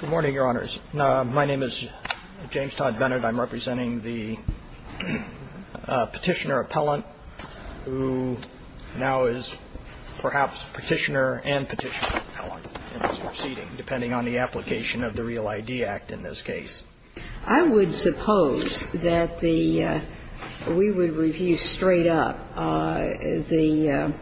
Good morning, Your Honors. My name is James Todd Bennett. I'm representing the Petitioner-Appellant, who now is perhaps Petitioner and Petitioner-Appellant in this proceeding, depending on the application of the REAL ID Act in this case. I would suppose that the, we would review straight up the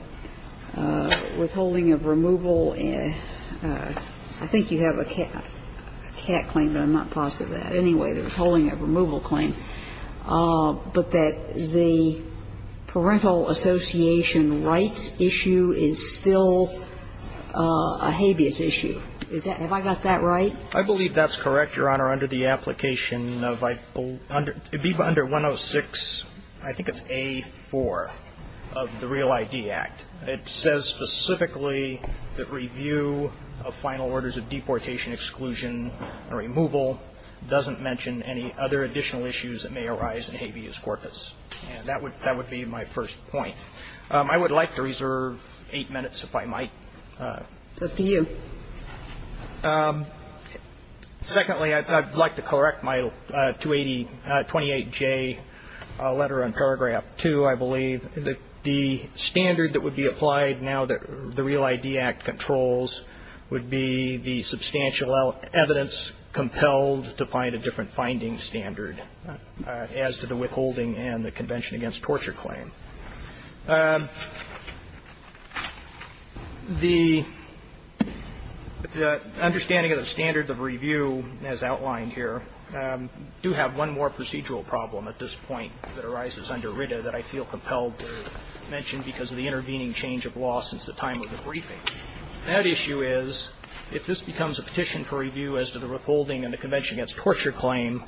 withholding of removal. I think you have a cat claim, but I'm not positive of that. Anyway, the withholding of removal claim. But that the parental association rights issue is still a habeas issue. Is that, have I got that right? I believe that's correct, Your Honor, under the application of, under 106, I think it's A4 of the REAL ID Act. It says specifically that review of final orders of deportation exclusion and removal doesn't mention any other additional issues that may arise in habeas corpus. And that would, that would be my first point. I would like to reserve eight minutes if I might. It's up to you. Secondly, I'd like to correct my 280, 28J letter on paragraph 2, I believe. The standard that would be applied now that the REAL ID Act controls would be the substantial evidence compelled to find a different finding standard as to the withholding and the Convention Against Torture claim. The understanding of the standards of review, as outlined here, do have one more procedural problem at this point that arises under RITA that I feel compelled to mention because of the intervening change of law since the time of the briefing. That issue is, if this becomes a petition for review as to the withholding and the Convention Against Torture claim,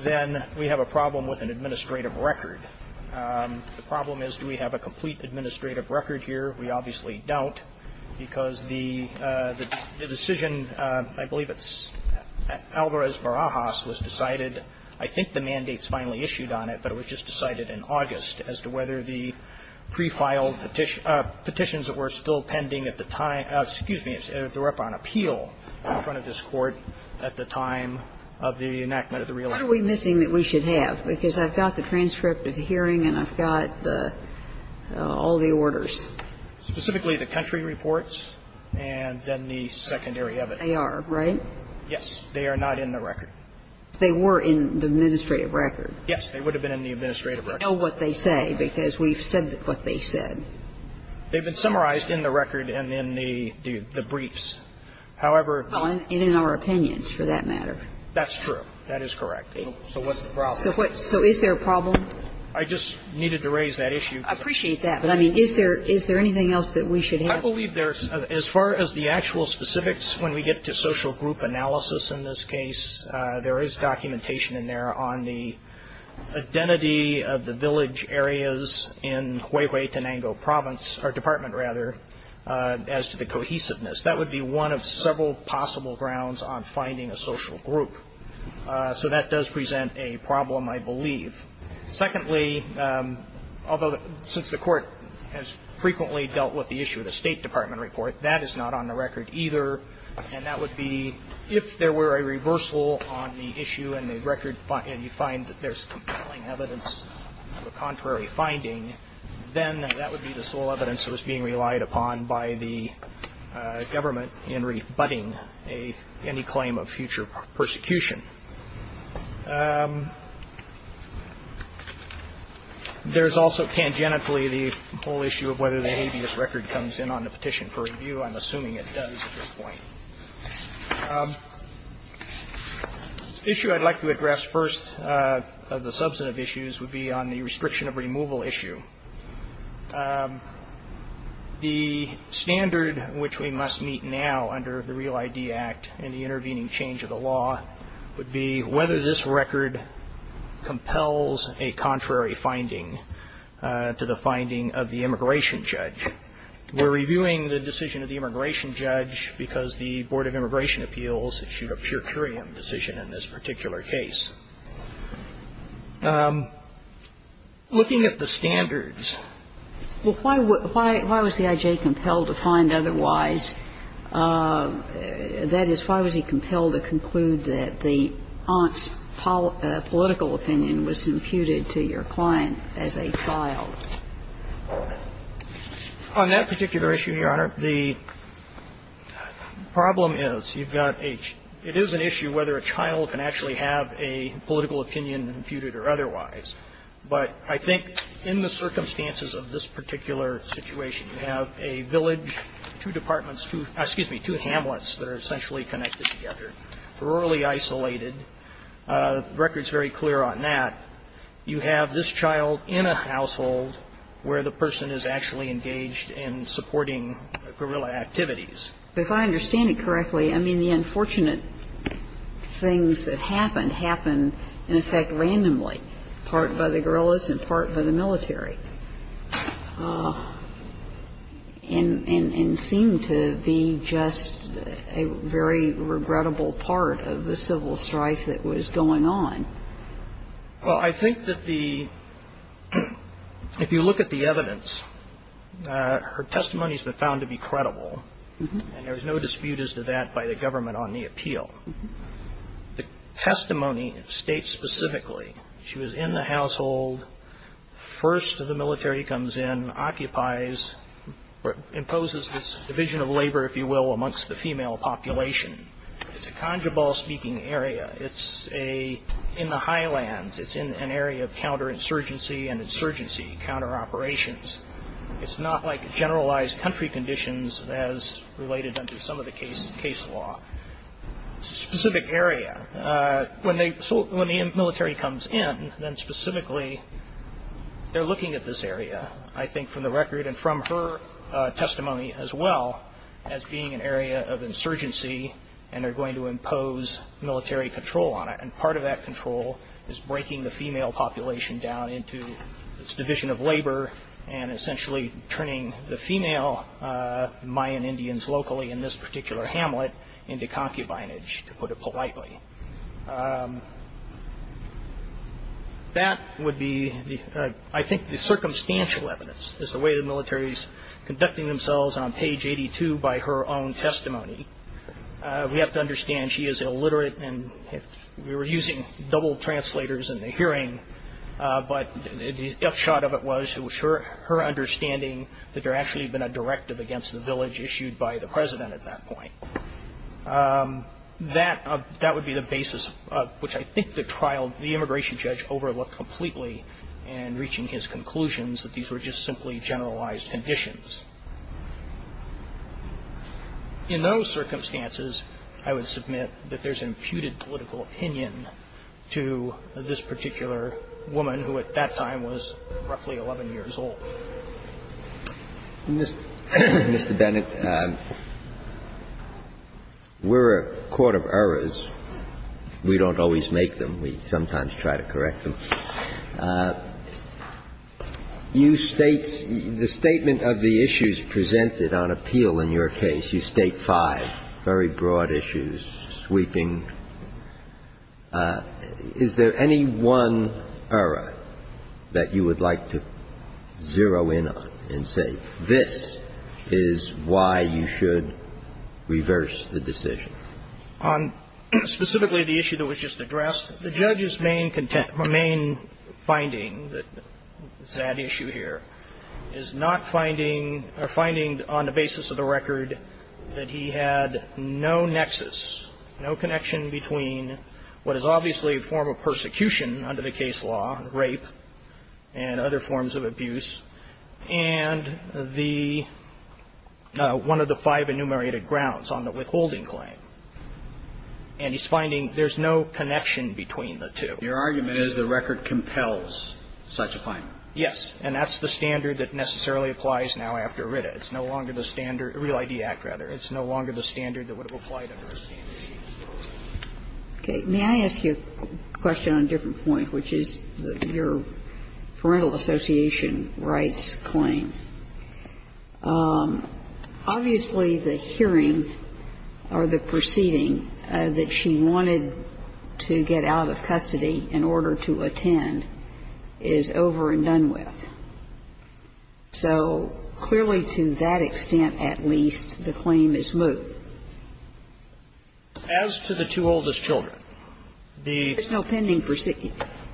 then we have a problem with an administrative record. The problem is, do we have a complete administrative record here? We obviously don't, because the decision, I believe it's Alvarez-Barajas, was decided, I think the mandate's finally issued on it, but it was just decided in August as to whether the pre-filed petitions that were still pending at the time of the enactment of the REAL ID Act should have a transcript of the hearing and I've got all the orders. What are we missing that we should have, because I've got the transcript of the hearing and I've got all the orders? Specifically, the country reports and then the secondary evidence. They are, right? Yes. They are not in the record. They were in the administrative record. Yes. They would have been in the administrative record. We know what they say because we've said what they said. They've been summarized in the record and in the briefs. However... And in our opinions, for that matter. That's true. That is correct. So what's the problem? So is there a problem? I just needed to raise that issue. I appreciate that, but I mean, is there anything else that we should have? I believe there's, as far as the actual specifics, when we get to social group analysis in this case, there is documentation in there on the identity of the village areas in Huehuetenango province, or department, rather, as to the cohesiveness. That would be one of several possible grounds on finding a social group. So that does present a problem, I believe. Secondly, although since the court has frequently dealt with the issue of the State Department report, that is not on the record either, and that would be if there were a reversal on the issue in the record and you find that there's compelling evidence of a contrary finding, then that would be the sole evidence that was being relied upon by the government in rebutting any claim of future persecution. There's also tangentially the whole issue of whether the habeas record comes in on the petition for review, I'm assuming it does at this point. The issue I'd like to address first of the substantive issues would be on the restriction of removal issue. The standard which we must meet now under the Real ID Act and the intervening change of the law would be whether this record compels a contrary finding to the finding of the immigration judge. We're reviewing the decision of the immigration judge because the Board of Immigration Appeals issued a purcurian decision in this particular case. Looking at the standards. Well, why was the I.J. compelled to find otherwise? That is, why was he compelled to conclude that the aunt's political opinion was imputed to your client as a child? On that particular issue, Your Honor, the problem is you've got a, it is an issue whether a child can actually have a political opinion imputed or otherwise. But I think in the circumstances of this particular situation, you have a village, two departments, two, excuse me, two hamlets that are essentially connected together. Rurally isolated. The record's very clear on that. You have this child in a household where the person is actually engaged in supporting guerrilla activities. If I understand it correctly, I mean, the unfortunate things that happened, happened in effect randomly, part by the guerrillas and part by the military. And seemed to be just a very regrettable part of the civil strife that was going on. Well, I think that the, if you look at the evidence, her testimony's been found to be credible. And there's no dispute as to that by the government on the appeal. The testimony states specifically, she was in the household, first of the military comes in, occupies, or imposes this division of labor, if you will, amongst the female population. It's a Conjabal-speaking area. It's in the highlands. It's in an area of counter-insurgency and insurgency, counter-operations. It's not like generalized country conditions as related under some of the case law. It's a specific area. When the military comes in, then specifically, they're looking at this area, I think from the record and from her testimony as well, as being an area of insurgency. And they're going to impose military control on it. And part of that control is breaking the female population down into this division of labor and essentially turning the female Mayan Indians locally in this particular hamlet into concubinage, to put it politely. That would be, I think, the circumstantial evidence, is the way the military's conducting themselves on page 82 by her own testimony. We have to understand she is illiterate, and we were using double translators in the hearing. But the F shot of it was, it was her understanding that there actually had been a directive against the village issued by the president at that point. That would be the basis of which I think the trial, the immigration judge overlooked completely in reaching his conclusions that these were just simply generalized conditions. In those circumstances, I would submit that there's an imputed political opinion to this particular woman, who at that time was roughly 11 years old. Mr. Bennett, we're a court of errors, we don't always make them, we sometimes try to correct them. You state, the statement of the issues presented on appeal in your case, you state five very broad issues, sweeping. Is there any one error that you would like to zero in on and say this is why you should reverse the decision? On specifically the issue that was just addressed, the judge's main finding, that is that issue here, is not finding, or finding on the basis of the record that he had no nexus, no connection between what is obviously a form of persecution under the case law, rape, and other forms of abuse. And the one of the five enumerated grounds on the withholding claim, and he's finding there's no connection between the two. Your argument is the record compels such a finding. Yes. And that's the standard that necessarily applies now after RITA. It's no longer the standard, Real ID Act, rather. It's no longer the standard that would have applied under a standard. Okay. May I ask you a question on a different point, which is your parental association rights claim? Obviously, the hearing or the proceeding that she wanted to get out of custody in order to attend is over and done with. So clearly, to that extent at least, the claim is moot. As to the two oldest children, the children are still pending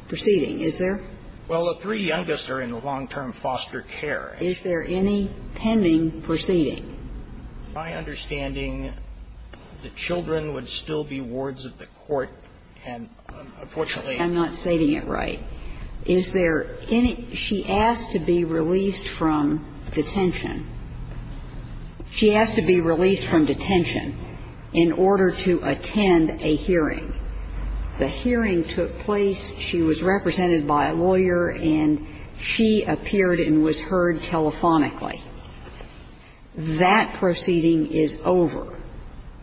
proceeding, is there? Well, the three youngest are in long-term foster care. Is there any pending proceeding? My understanding, the children would still be wards of the court, and unfortunately I'm not stating it right. Is there any – she asked to be released from detention. She asked to be released from detention in order to attend a hearing. The hearing took place. She was represented by a lawyer, and she appeared and was heard telephonically. That proceeding is over,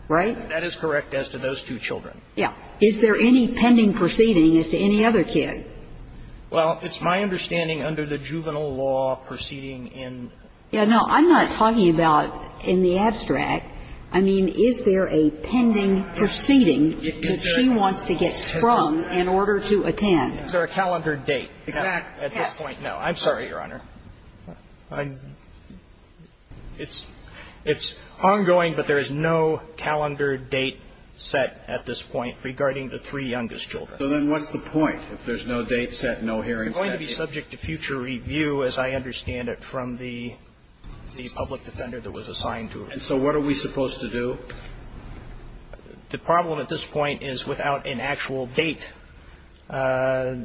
right? That is correct as to those two children. Yeah. Is there any pending proceeding as to any other kid? Well, it's my understanding under the juvenile law proceeding in the child. Yeah, no, I'm not talking about in the abstract. I mean, is there a pending proceeding that she wants to get sprung in order to attend? Is there a calendar date at this point? No. I'm sorry, Your Honor. It's ongoing, but there is no calendar date set at this point regarding the three youngest children. So then what's the point if there's no date set, no hearing set? I'm going to be subject to future review, as I understand it, from the public defender that was assigned to her. And so what are we supposed to do? The problem at this point is without an actual date, there's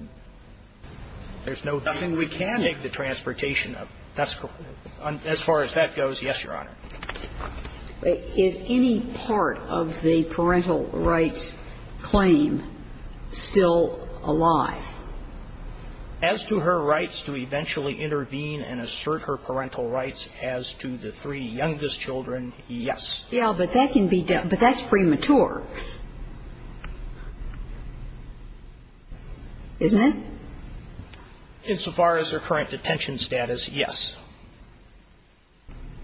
no date to make the transportation of – as far as that goes, yes, Your Honor. Is any part of the parental rights claim still alive? As to her rights to eventually intervene and assert her parental rights as to the three youngest children, yes. Yeah, but that can be – but that's premature, isn't it? Insofar as her current detention status, yes.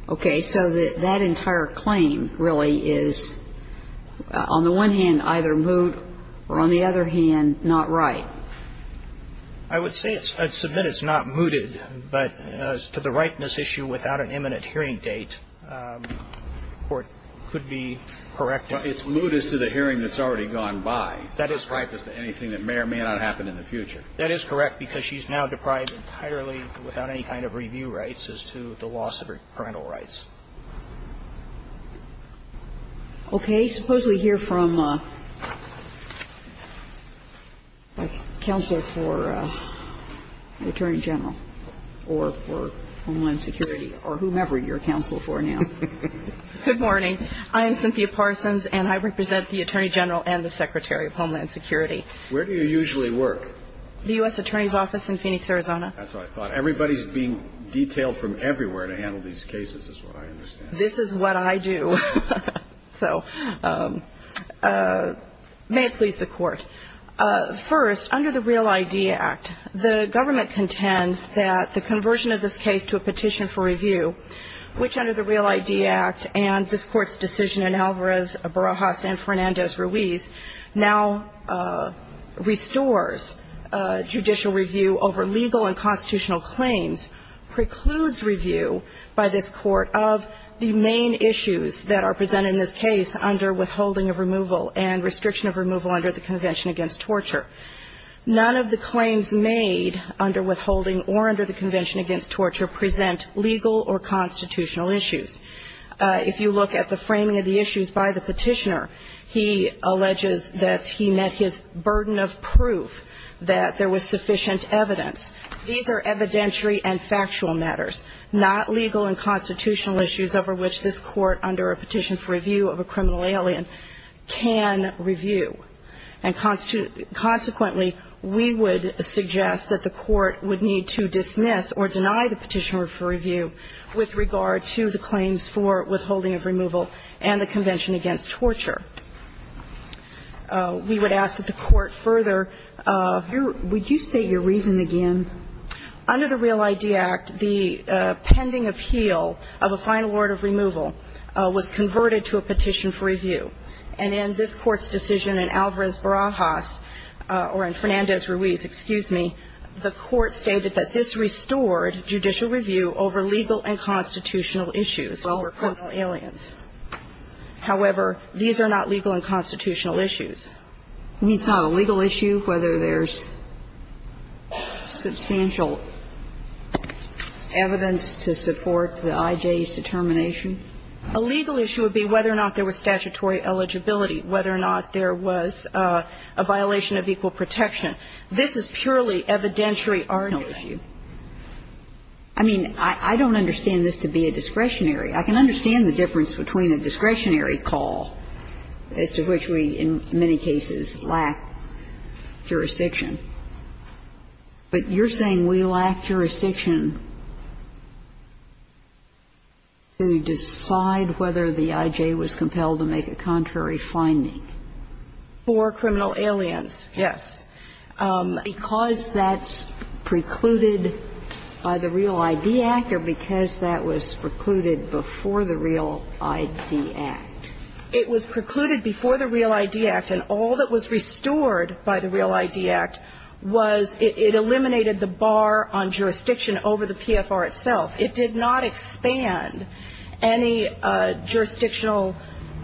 Okay. So that entire claim really is on the one hand either moot or on the other hand not right. I would say it's – I'd submit it's not mooted, but as to the rightness issue without an imminent hearing date, the Court could be correct in that. But it's moot as to the hearing that's already gone by. That is correct. As to anything that may or may not happen in the future. That is correct, because she's now deprived entirely without any kind of review rights as to the loss of her parental rights. Okay. Suppose we hear from a counselor for the Attorney General or for Homeland Security or whomever you're a counselor for now. Good morning. I am Cynthia Parsons, and I represent the Attorney General and the Secretary of Homeland Security. Where do you usually work? The U.S. Attorney's Office in Phoenix, Arizona. That's what I thought. Everybody's being detailed from everywhere to handle these cases is what I thought. This is what I do. So may it please the Court. First, under the REAL-ID Act, the government contends that the conversion of this case to a petition for review, which under the REAL-ID Act and this Court's decision in Alvarez-Barajas and Fernandez-Ruiz, now restores judicial review over legal and constitutional claims, precludes review by this Court of the main issues that are presented in this case under withholding of removal and restriction of removal under the Convention Against Torture. None of the claims made under withholding or under the Convention Against Torture present legal or constitutional issues. If you look at the framing of the issues by the petitioner, he alleges that he met his burden of proof, that there was sufficient evidence. These are evidentiary and factual matters, not legal and constitutional issues over which this Court under a petition for review of a criminal alien can review. And consequently, we would suggest that the Court would need to dismiss or deny the petitioner for review with regard to the claims for withholding of removal and the Convention Against Torture. We would ask that the Court further. Would you state your reason again? Under the REAL-ID Act, the pending appeal of a final order of removal was converted to a petition for review, and in this Court's decision in Alvarez-Barajas or in Fernandez-Ruiz, excuse me, the Court stated that this restored judicial review over legal and constitutional issues over criminal aliens. However, these are not legal and constitutional issues. You mean it's not a legal issue whether there's substantial evidence to support the IJ's determination? A legal issue would be whether or not there was statutory eligibility, whether or not there was a violation of equal protection. This is purely evidentiary argument. I mean, I don't understand this to be a discretionary. I can understand the difference between a discretionary call, as to which we, in many cases, lack jurisdiction, but you're saying we lack jurisdiction to decide whether the IJ was compelled to make a contrary finding? For criminal aliens, yes. Because that's precluded by the REAL-ID Act or because that was precluded before the REAL-ID Act. It was precluded before the REAL-ID Act, and all that was restored by the REAL-ID Act was it eliminated the bar on jurisdiction over the PFR itself. It did not expand any jurisdictional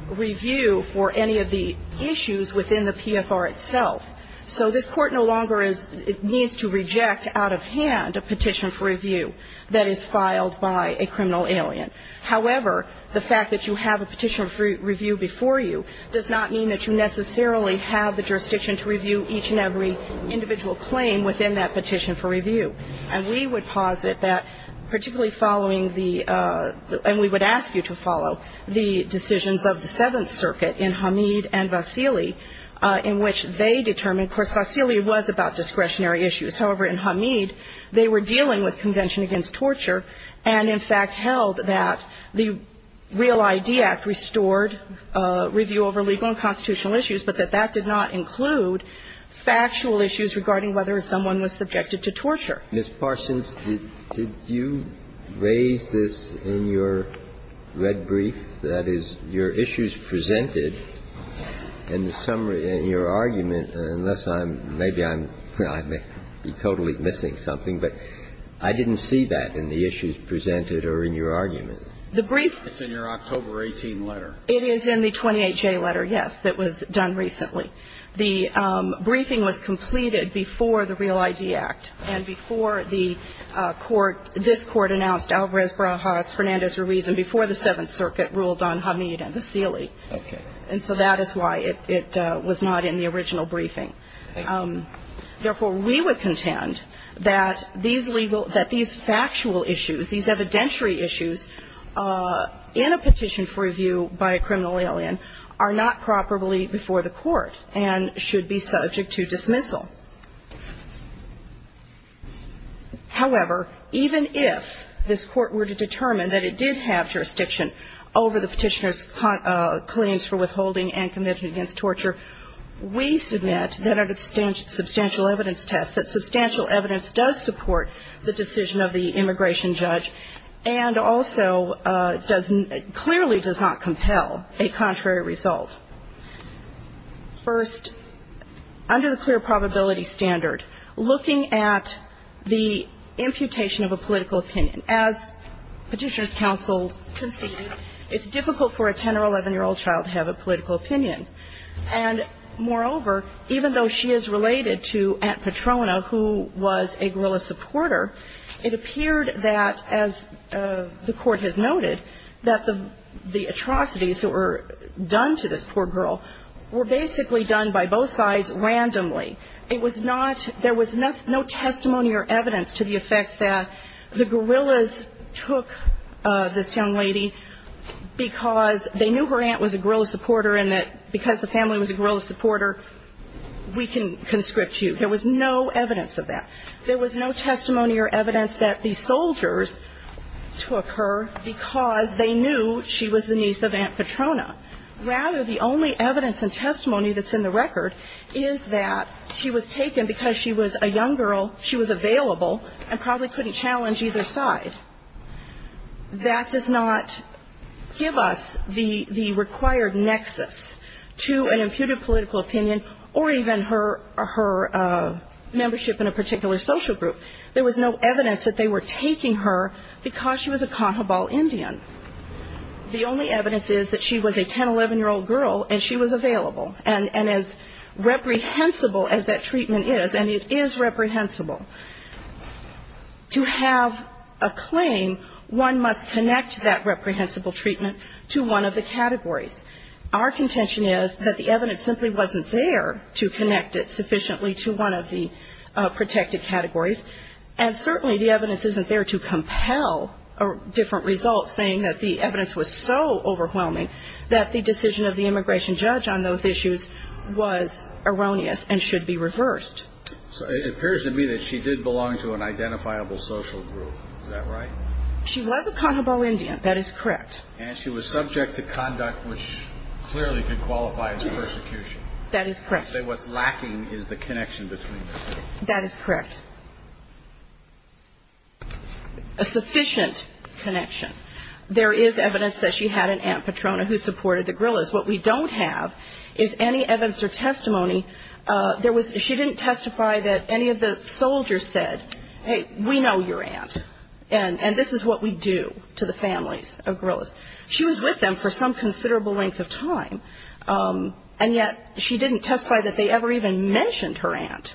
review for any of the issues within the PFR itself. So this Court no longer is needs to reject out of hand a petition for review that is filed by a criminal alien. However, the fact that you have a petition for review before you does not mean that you necessarily have the jurisdiction to review each and every individual claim within that petition for review. And we would posit that, particularly following the – and we would ask you to follow the decisions of the Seventh Circuit in Hamid and Vasili, in which they determined – of course, Vasili was about discretionary issues. However, in Hamid, they were dealing with convention against torture and, in fact, held that the REAL-ID Act restored review over legal and constitutional issues, but that that did not include factual issues regarding whether someone was subjected to torture. Mr. Parsons, did you raise this in your red brief, that is, your issues presented in the summary in your argument? Unless I'm – maybe I'm – I may be totally missing something, but I didn't see that in the issues presented or in your argument. The brief – It's in your October 18 letter. It is in the 28J letter, yes, that was done recently. The briefing was completed before the REAL-ID Act and before the court – this Court announced Alvarez-Brahas, Fernandez-Ruiz, and before the Seventh Circuit ruled on Hamid and Vasili. Okay. And so that is why it was not in the original briefing. Therefore, we would contend that these legal – that these factual issues, these evidentiary issues in a petition for review by a criminal alien are not properly before the court and should be subject to dismissal. However, even if this Court were to determine that it did have jurisdiction over the petitioner's claims for withholding and conviction against torture, we submit that under the substantial evidence test that substantial evidence does support the decision of the immigration judge and also does – clearly does not compel a contrary result. First, under the clear probability standard, looking at the imputation of a political opinion, as Petitioner's Counsel conceded, it's difficult for a 10- or 11-year-old child to have a political opinion. And moreover, even though she is related to Aunt Petrona, who was a guerrilla supporter, it appeared that, as the Court has noted, that the atrocities that were done to this poor girl were basically done by both sides randomly. It was not – there was no testimony or evidence to the effect that the guerrillas took this young lady because they knew her aunt was a guerrilla supporter and that because the family was a guerrilla supporter, we can conscript you. There was no evidence of that. There was no testimony or evidence that the soldiers took her because they knew she was the niece of Aunt Petrona. Rather, the only evidence and testimony that's in the record is that she was taken because she was a young girl, she was available, and probably couldn't challenge either side. That does not give us the required nexus to an imputed political opinion or even her membership in a particular social group. There was no evidence that they were taking her because she was a Cajabal Indian. The only evidence is that she was a 10-, 11-year-old girl and she was available. And as reprehensible as that treatment is, and it is reprehensible, to have a claim, one must connect that reprehensible treatment to one of the categories. Our contention is that the evidence simply wasn't there to connect it sufficiently to one of the protected categories. And certainly the evidence isn't there to compel different results, saying that the evidence was so overwhelming that the decision of the immigration judge on those issues was erroneous and should be reversed. So it appears to me that she did belong to an identifiable social group. Is that right? She was a Cajabal Indian. That is correct. And she was subject to conduct which clearly could qualify as persecution. That is correct. So what's lacking is the connection between the two. That is correct. A sufficient connection. There is evidence that she had an Aunt Petrona who supported the guerillas. What we don't have is any evidence or testimony. She didn't testify that any of the soldiers said, hey, we know your aunt, and this is what we do to the families of guerillas. She was with them for some considerable length of time, and yet she didn't testify that they ever even mentioned her aunt.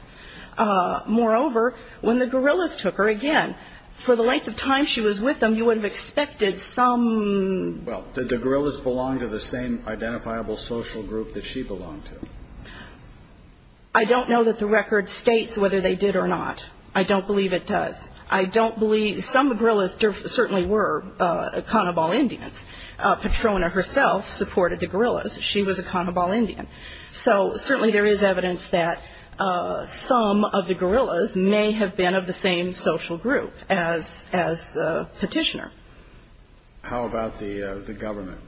Moreover, when the guerillas took her again, for the length of time she was with them, you would have expected some ---- Well, did the guerillas belong to the same identifiable social group that she belonged to? I don't know that the record states whether they did or not. I don't believe it does. I don't believe ---- some guerillas certainly were Cajabal Indians. Petrona herself supported the guerillas. She was a Cajabal Indian. So certainly there is evidence that some of the guerillas may have been of the same social group as the petitioner. How about the government?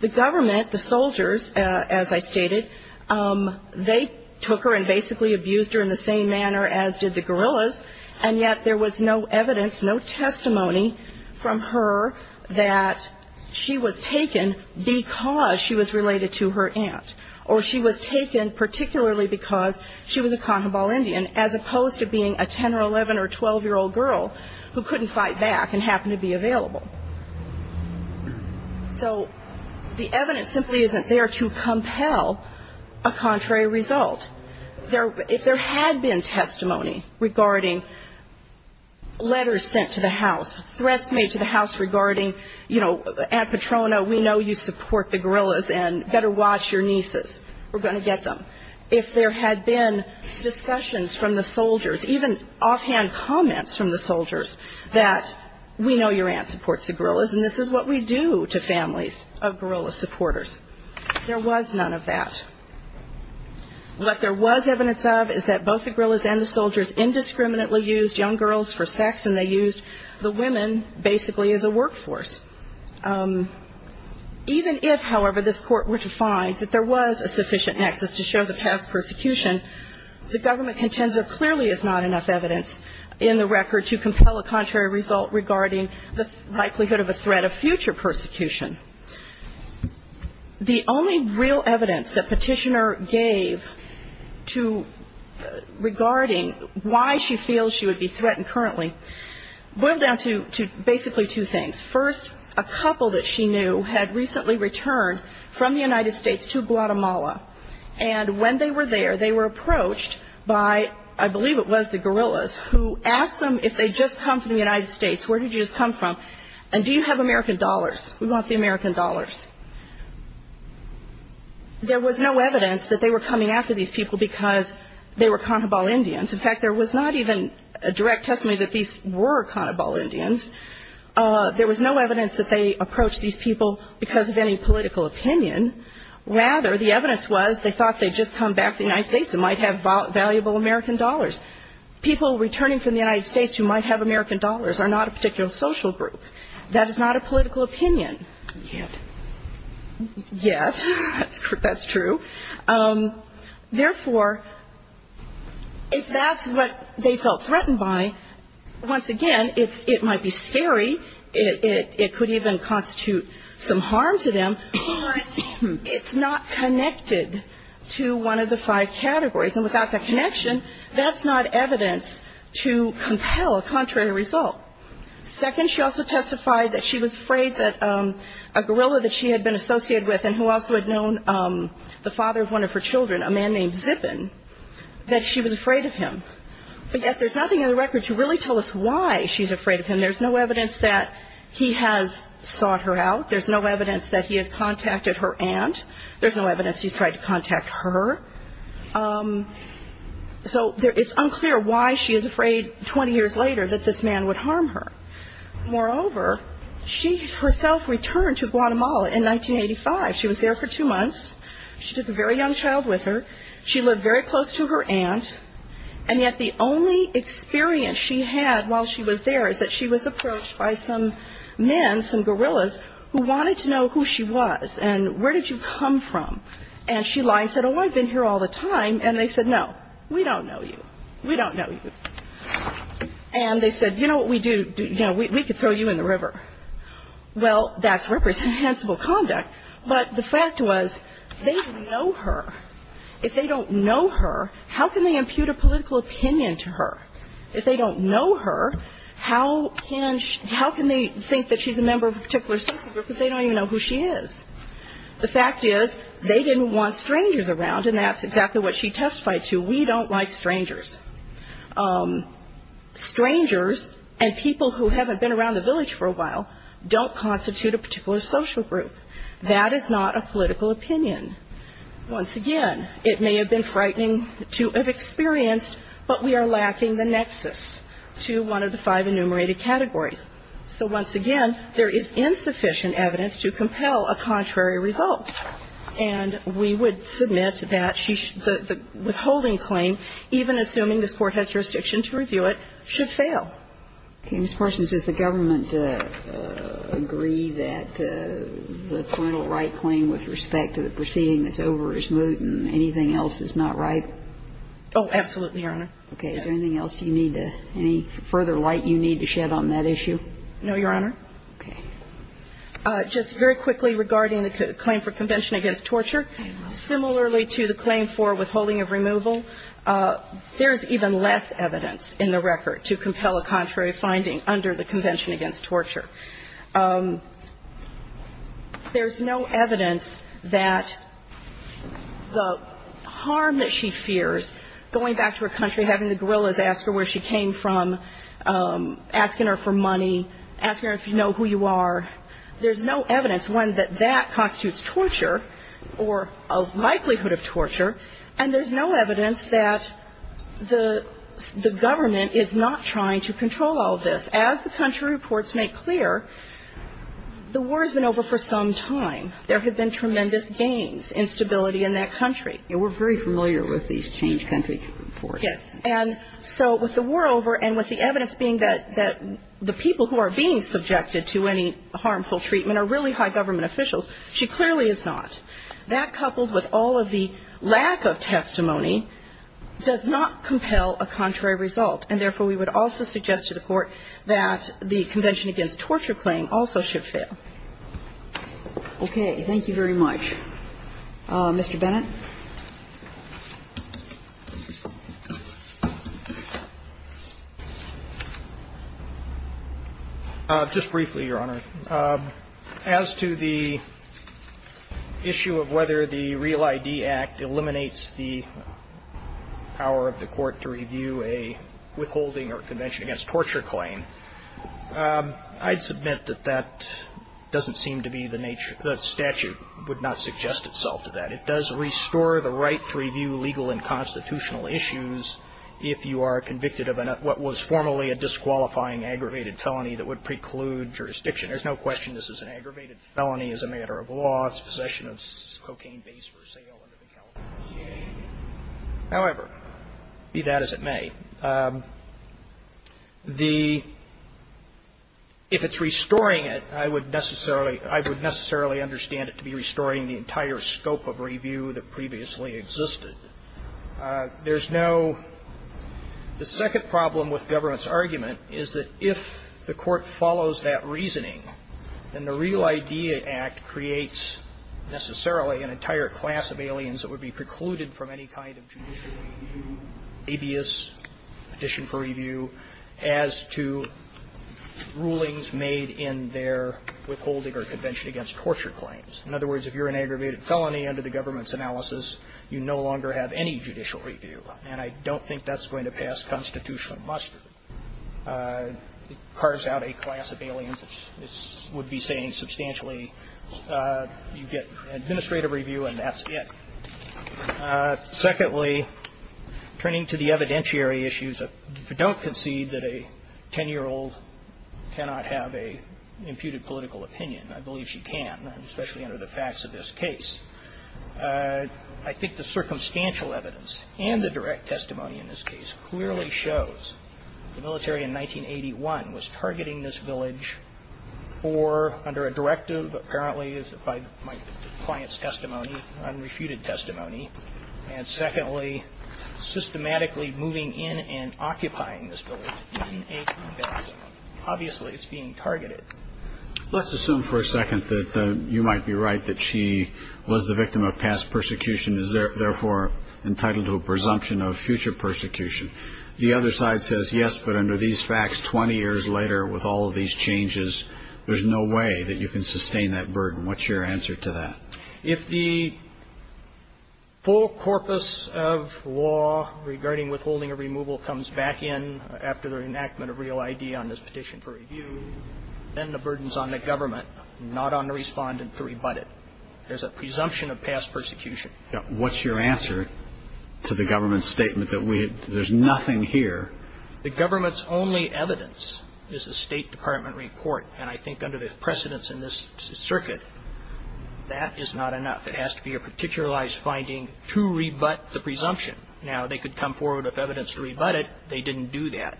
The government, the soldiers, as I stated, they took her and basically abused her in the same manner as did the guerillas, and yet there was no evidence, no testimony from her that she was taken because she was related to her aunt, or she was taken particularly because she was a Cajabal Indian, as opposed to being a 10- or 11- or 12-year-old girl who couldn't fight back and happened to be available. So the evidence simply isn't there to compel a contrary result. If there had been testimony regarding letters sent to the house, threats made to the house regarding, you know, Aunt Petrona, we know you support the guerillas and better watch your nieces, we're going to get them. If there had been discussions from the soldiers, even offhand comments from the soldiers, that we know your aunt supports the guerillas and this is what we do to families of guerilla supporters, there was none of that. What there was evidence of is that both the guerillas and the soldiers indiscriminately used young girls for sex and they used the women basically as a workforce. Even if, however, this Court were to find that there was a sufficient nexus to show the past persecution, the government contends there clearly is not enough evidence in the record to compel a contrary result regarding the likelihood of a threat of future persecution. The only real evidence that Petitioner gave to regarding why she feels she would be threatened currently boiled down to basically two things. First, a couple that she knew had recently returned from the United States to Guatemala, and when they were there, they were approached by, I believe it was the guerillas, who asked them if they had just come from the United States, where did you just come from, and do you have American dollars? We want the American dollars. There was no evidence that they were coming after these people because they were Canabal Indians. In fact, there was not even a direct testimony that these were Canabal Indians. There was no evidence that they approached these people because of any political opinion. Rather, the evidence was they thought they'd just come back from the United States and might have valuable American dollars. People returning from the United States who might have American dollars are not a particular social group. That is not a political opinion yet. Yet. That's true. Therefore, if that's what they felt threatened by, once again, it might be scary. It could even constitute some harm to them, but it's not connected to one of the five categories, and without that connection, that's not evidence to compel a contrary result. Second, she also testified that she was afraid that a gorilla that she had been associated with and who also had known the father of one of her children, a man named Zippin, that she was afraid of him. But yet there's nothing in the record to really tell us why she's afraid of him. There's no evidence that he has sought her out. There's no evidence that he has contacted her aunt. There's no evidence he's tried to contact her. So it's unclear why she is afraid 20 years later that this man would harm her. Moreover, she herself returned to Guatemala in 1985. She was there for two months. She took a very young child with her. She lived very close to her aunt, and yet the only experience she had while she was there is that she was approached by some men, some gorillas, who wanted to know who she was and where did you come from. And she lied and said, oh, I've been here all the time. And they said, no, we don't know you. We don't know you. And they said, you know what we do? You know, we could throw you in the river. Well, that's reprehensible conduct. But the fact was they know her. If they don't know her, how can they impute a political opinion to her? If they don't know her, how can they think that she's a member of a particular social group if they don't even know who she is? The fact is they didn't want strangers around, and that's exactly what she testified to. We don't like strangers. Strangers and people who haven't been around the village for a while don't constitute a particular social group. That is not a political opinion. Once again, it may have been frightening to have experienced, but we are lacking the nexus to one of the five enumerated categories. So once again, there is insufficient evidence to compel a contrary result. And we would submit that the withholding claim, even assuming this Court has jurisdiction to review it, should fail. Ms. Parsons, does the government agree that the parental right claim with respect to the proceeding that's over is moot, and anything else is not right? Oh, absolutely, Your Honor. Okay. Is there anything else you need, any further light you need to shed on that issue? No, Your Honor. Okay. Just very quickly regarding the claim for convention against torture, similarly to the claim for withholding of removal, there's even less evidence in the record to compel a contrary finding under the convention against torture. So you're having the gorillas ask her where she came from, asking her for money, asking her if you know who you are. There's no evidence, one, that that constitutes torture or a likelihood of torture, and there's no evidence that the government is not trying to control all of this. As the country reports make clear, the war has been over for some time. There have been tremendous gains in stability in that country. And we're very familiar with these change country reports. Yes. And so with the war over and with the evidence being that the people who are being subjected to any harmful treatment are really high government officials, she clearly is not. That, coupled with all of the lack of testimony, does not compel a contrary result, and therefore, we would also suggest to the Court that the convention against torture claim also should fail. Okay. Thank you very much. Mr. Bennett. Just briefly, Your Honor. As to the issue of whether the Real ID Act eliminates the power of the Court to review a withholding or convention against torture claim, I'd submit that that doesn't seem to be the nature of the statute. It would not suggest itself to that. It does restore the right to review legal and constitutional issues if you are convicted of what was formerly a disqualifying aggravated felony that would preclude jurisdiction. There's no question this is an aggravated felony as a matter of law. It's possession of cocaine base for sale under the California Constitution. However, be that as it may, if it's restoring it, I would necessarily understand it to be restoring the entire scope of review that previously existed. There's no the second problem with government's argument is that if the Court follows that reasoning, then the Real ID Act creates necessarily an entire class of aliens that would be precluded from any kind of judicial review, habeas petition for review as to rulings made in their withholding or convention against torture claims. In other words, if you're an aggravated felony under the government's analysis, you no longer have any judicial review. And I don't think that's going to pass constitutional muster. It carves out a class of aliens that would be saying substantially you get administrative review and that's it. Secondly, turning to the evidentiary issues, if you don't concede that a 10-year-old cannot have an imputed political opinion, I believe she can, especially under the facts of this case, I think the circumstantial evidence and the direct testimony in this case clearly shows the military in 1981 was targeting this village for, under a directive apparently by my client's testimony, unrefuted testimony, and secondly, systematically moving in and occupying this village in 1981. Obviously, it's being targeted. Let's assume for a second that you might be right, that she was the victim of past persecution and is therefore entitled to a presumption of future persecution. The other side says, yes, but under these facts 20 years later with all of these changes, there's no way that you can sustain that burden. What's your answer to that? If the full corpus of law regarding withholding a removal comes back in after the enactment of real ID on this petition for review, then the burden is on the government, not on the Respondent to rebut it. There's a presumption of past persecution. What's your answer to the government's statement that there's nothing here? The government's only evidence is the State Department report. And I think under the precedence in this circuit, that is not enough. It has to be a particularized finding to rebut the presumption. Now, they could come forward with evidence to rebut it. They didn't do that.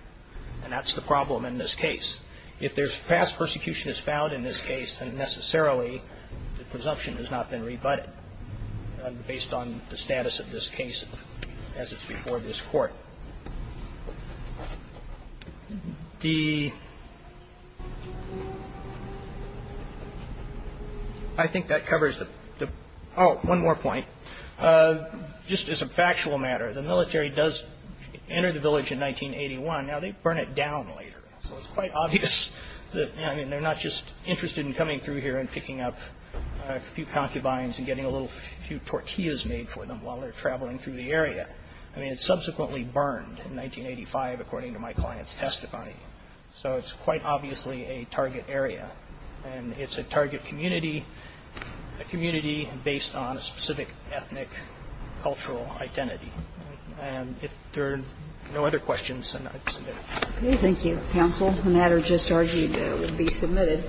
And that's the problem in this case. If there's past persecution that's found in this case, then necessarily the presumption has not been rebutted based on the status of this case as it's before this Court. The ---- I think that covers the ---- Oh, one more point. Just as a factual matter, the military does enter the village in 1981. Now, they burn it down later. So it's quite obvious that, I mean, they're not just interested in coming through here and picking up a few concubines and getting a few tortillas made for them while they're traveling through the area. I mean, it's subsequently burned in 1985, according to my client's testimony. So it's quite obviously a target area. And it's a target community, a community based on a specific ethnic cultural identity. And if there are no other questions, then I submit it. Thank you, counsel. The matter just argued would be submitted.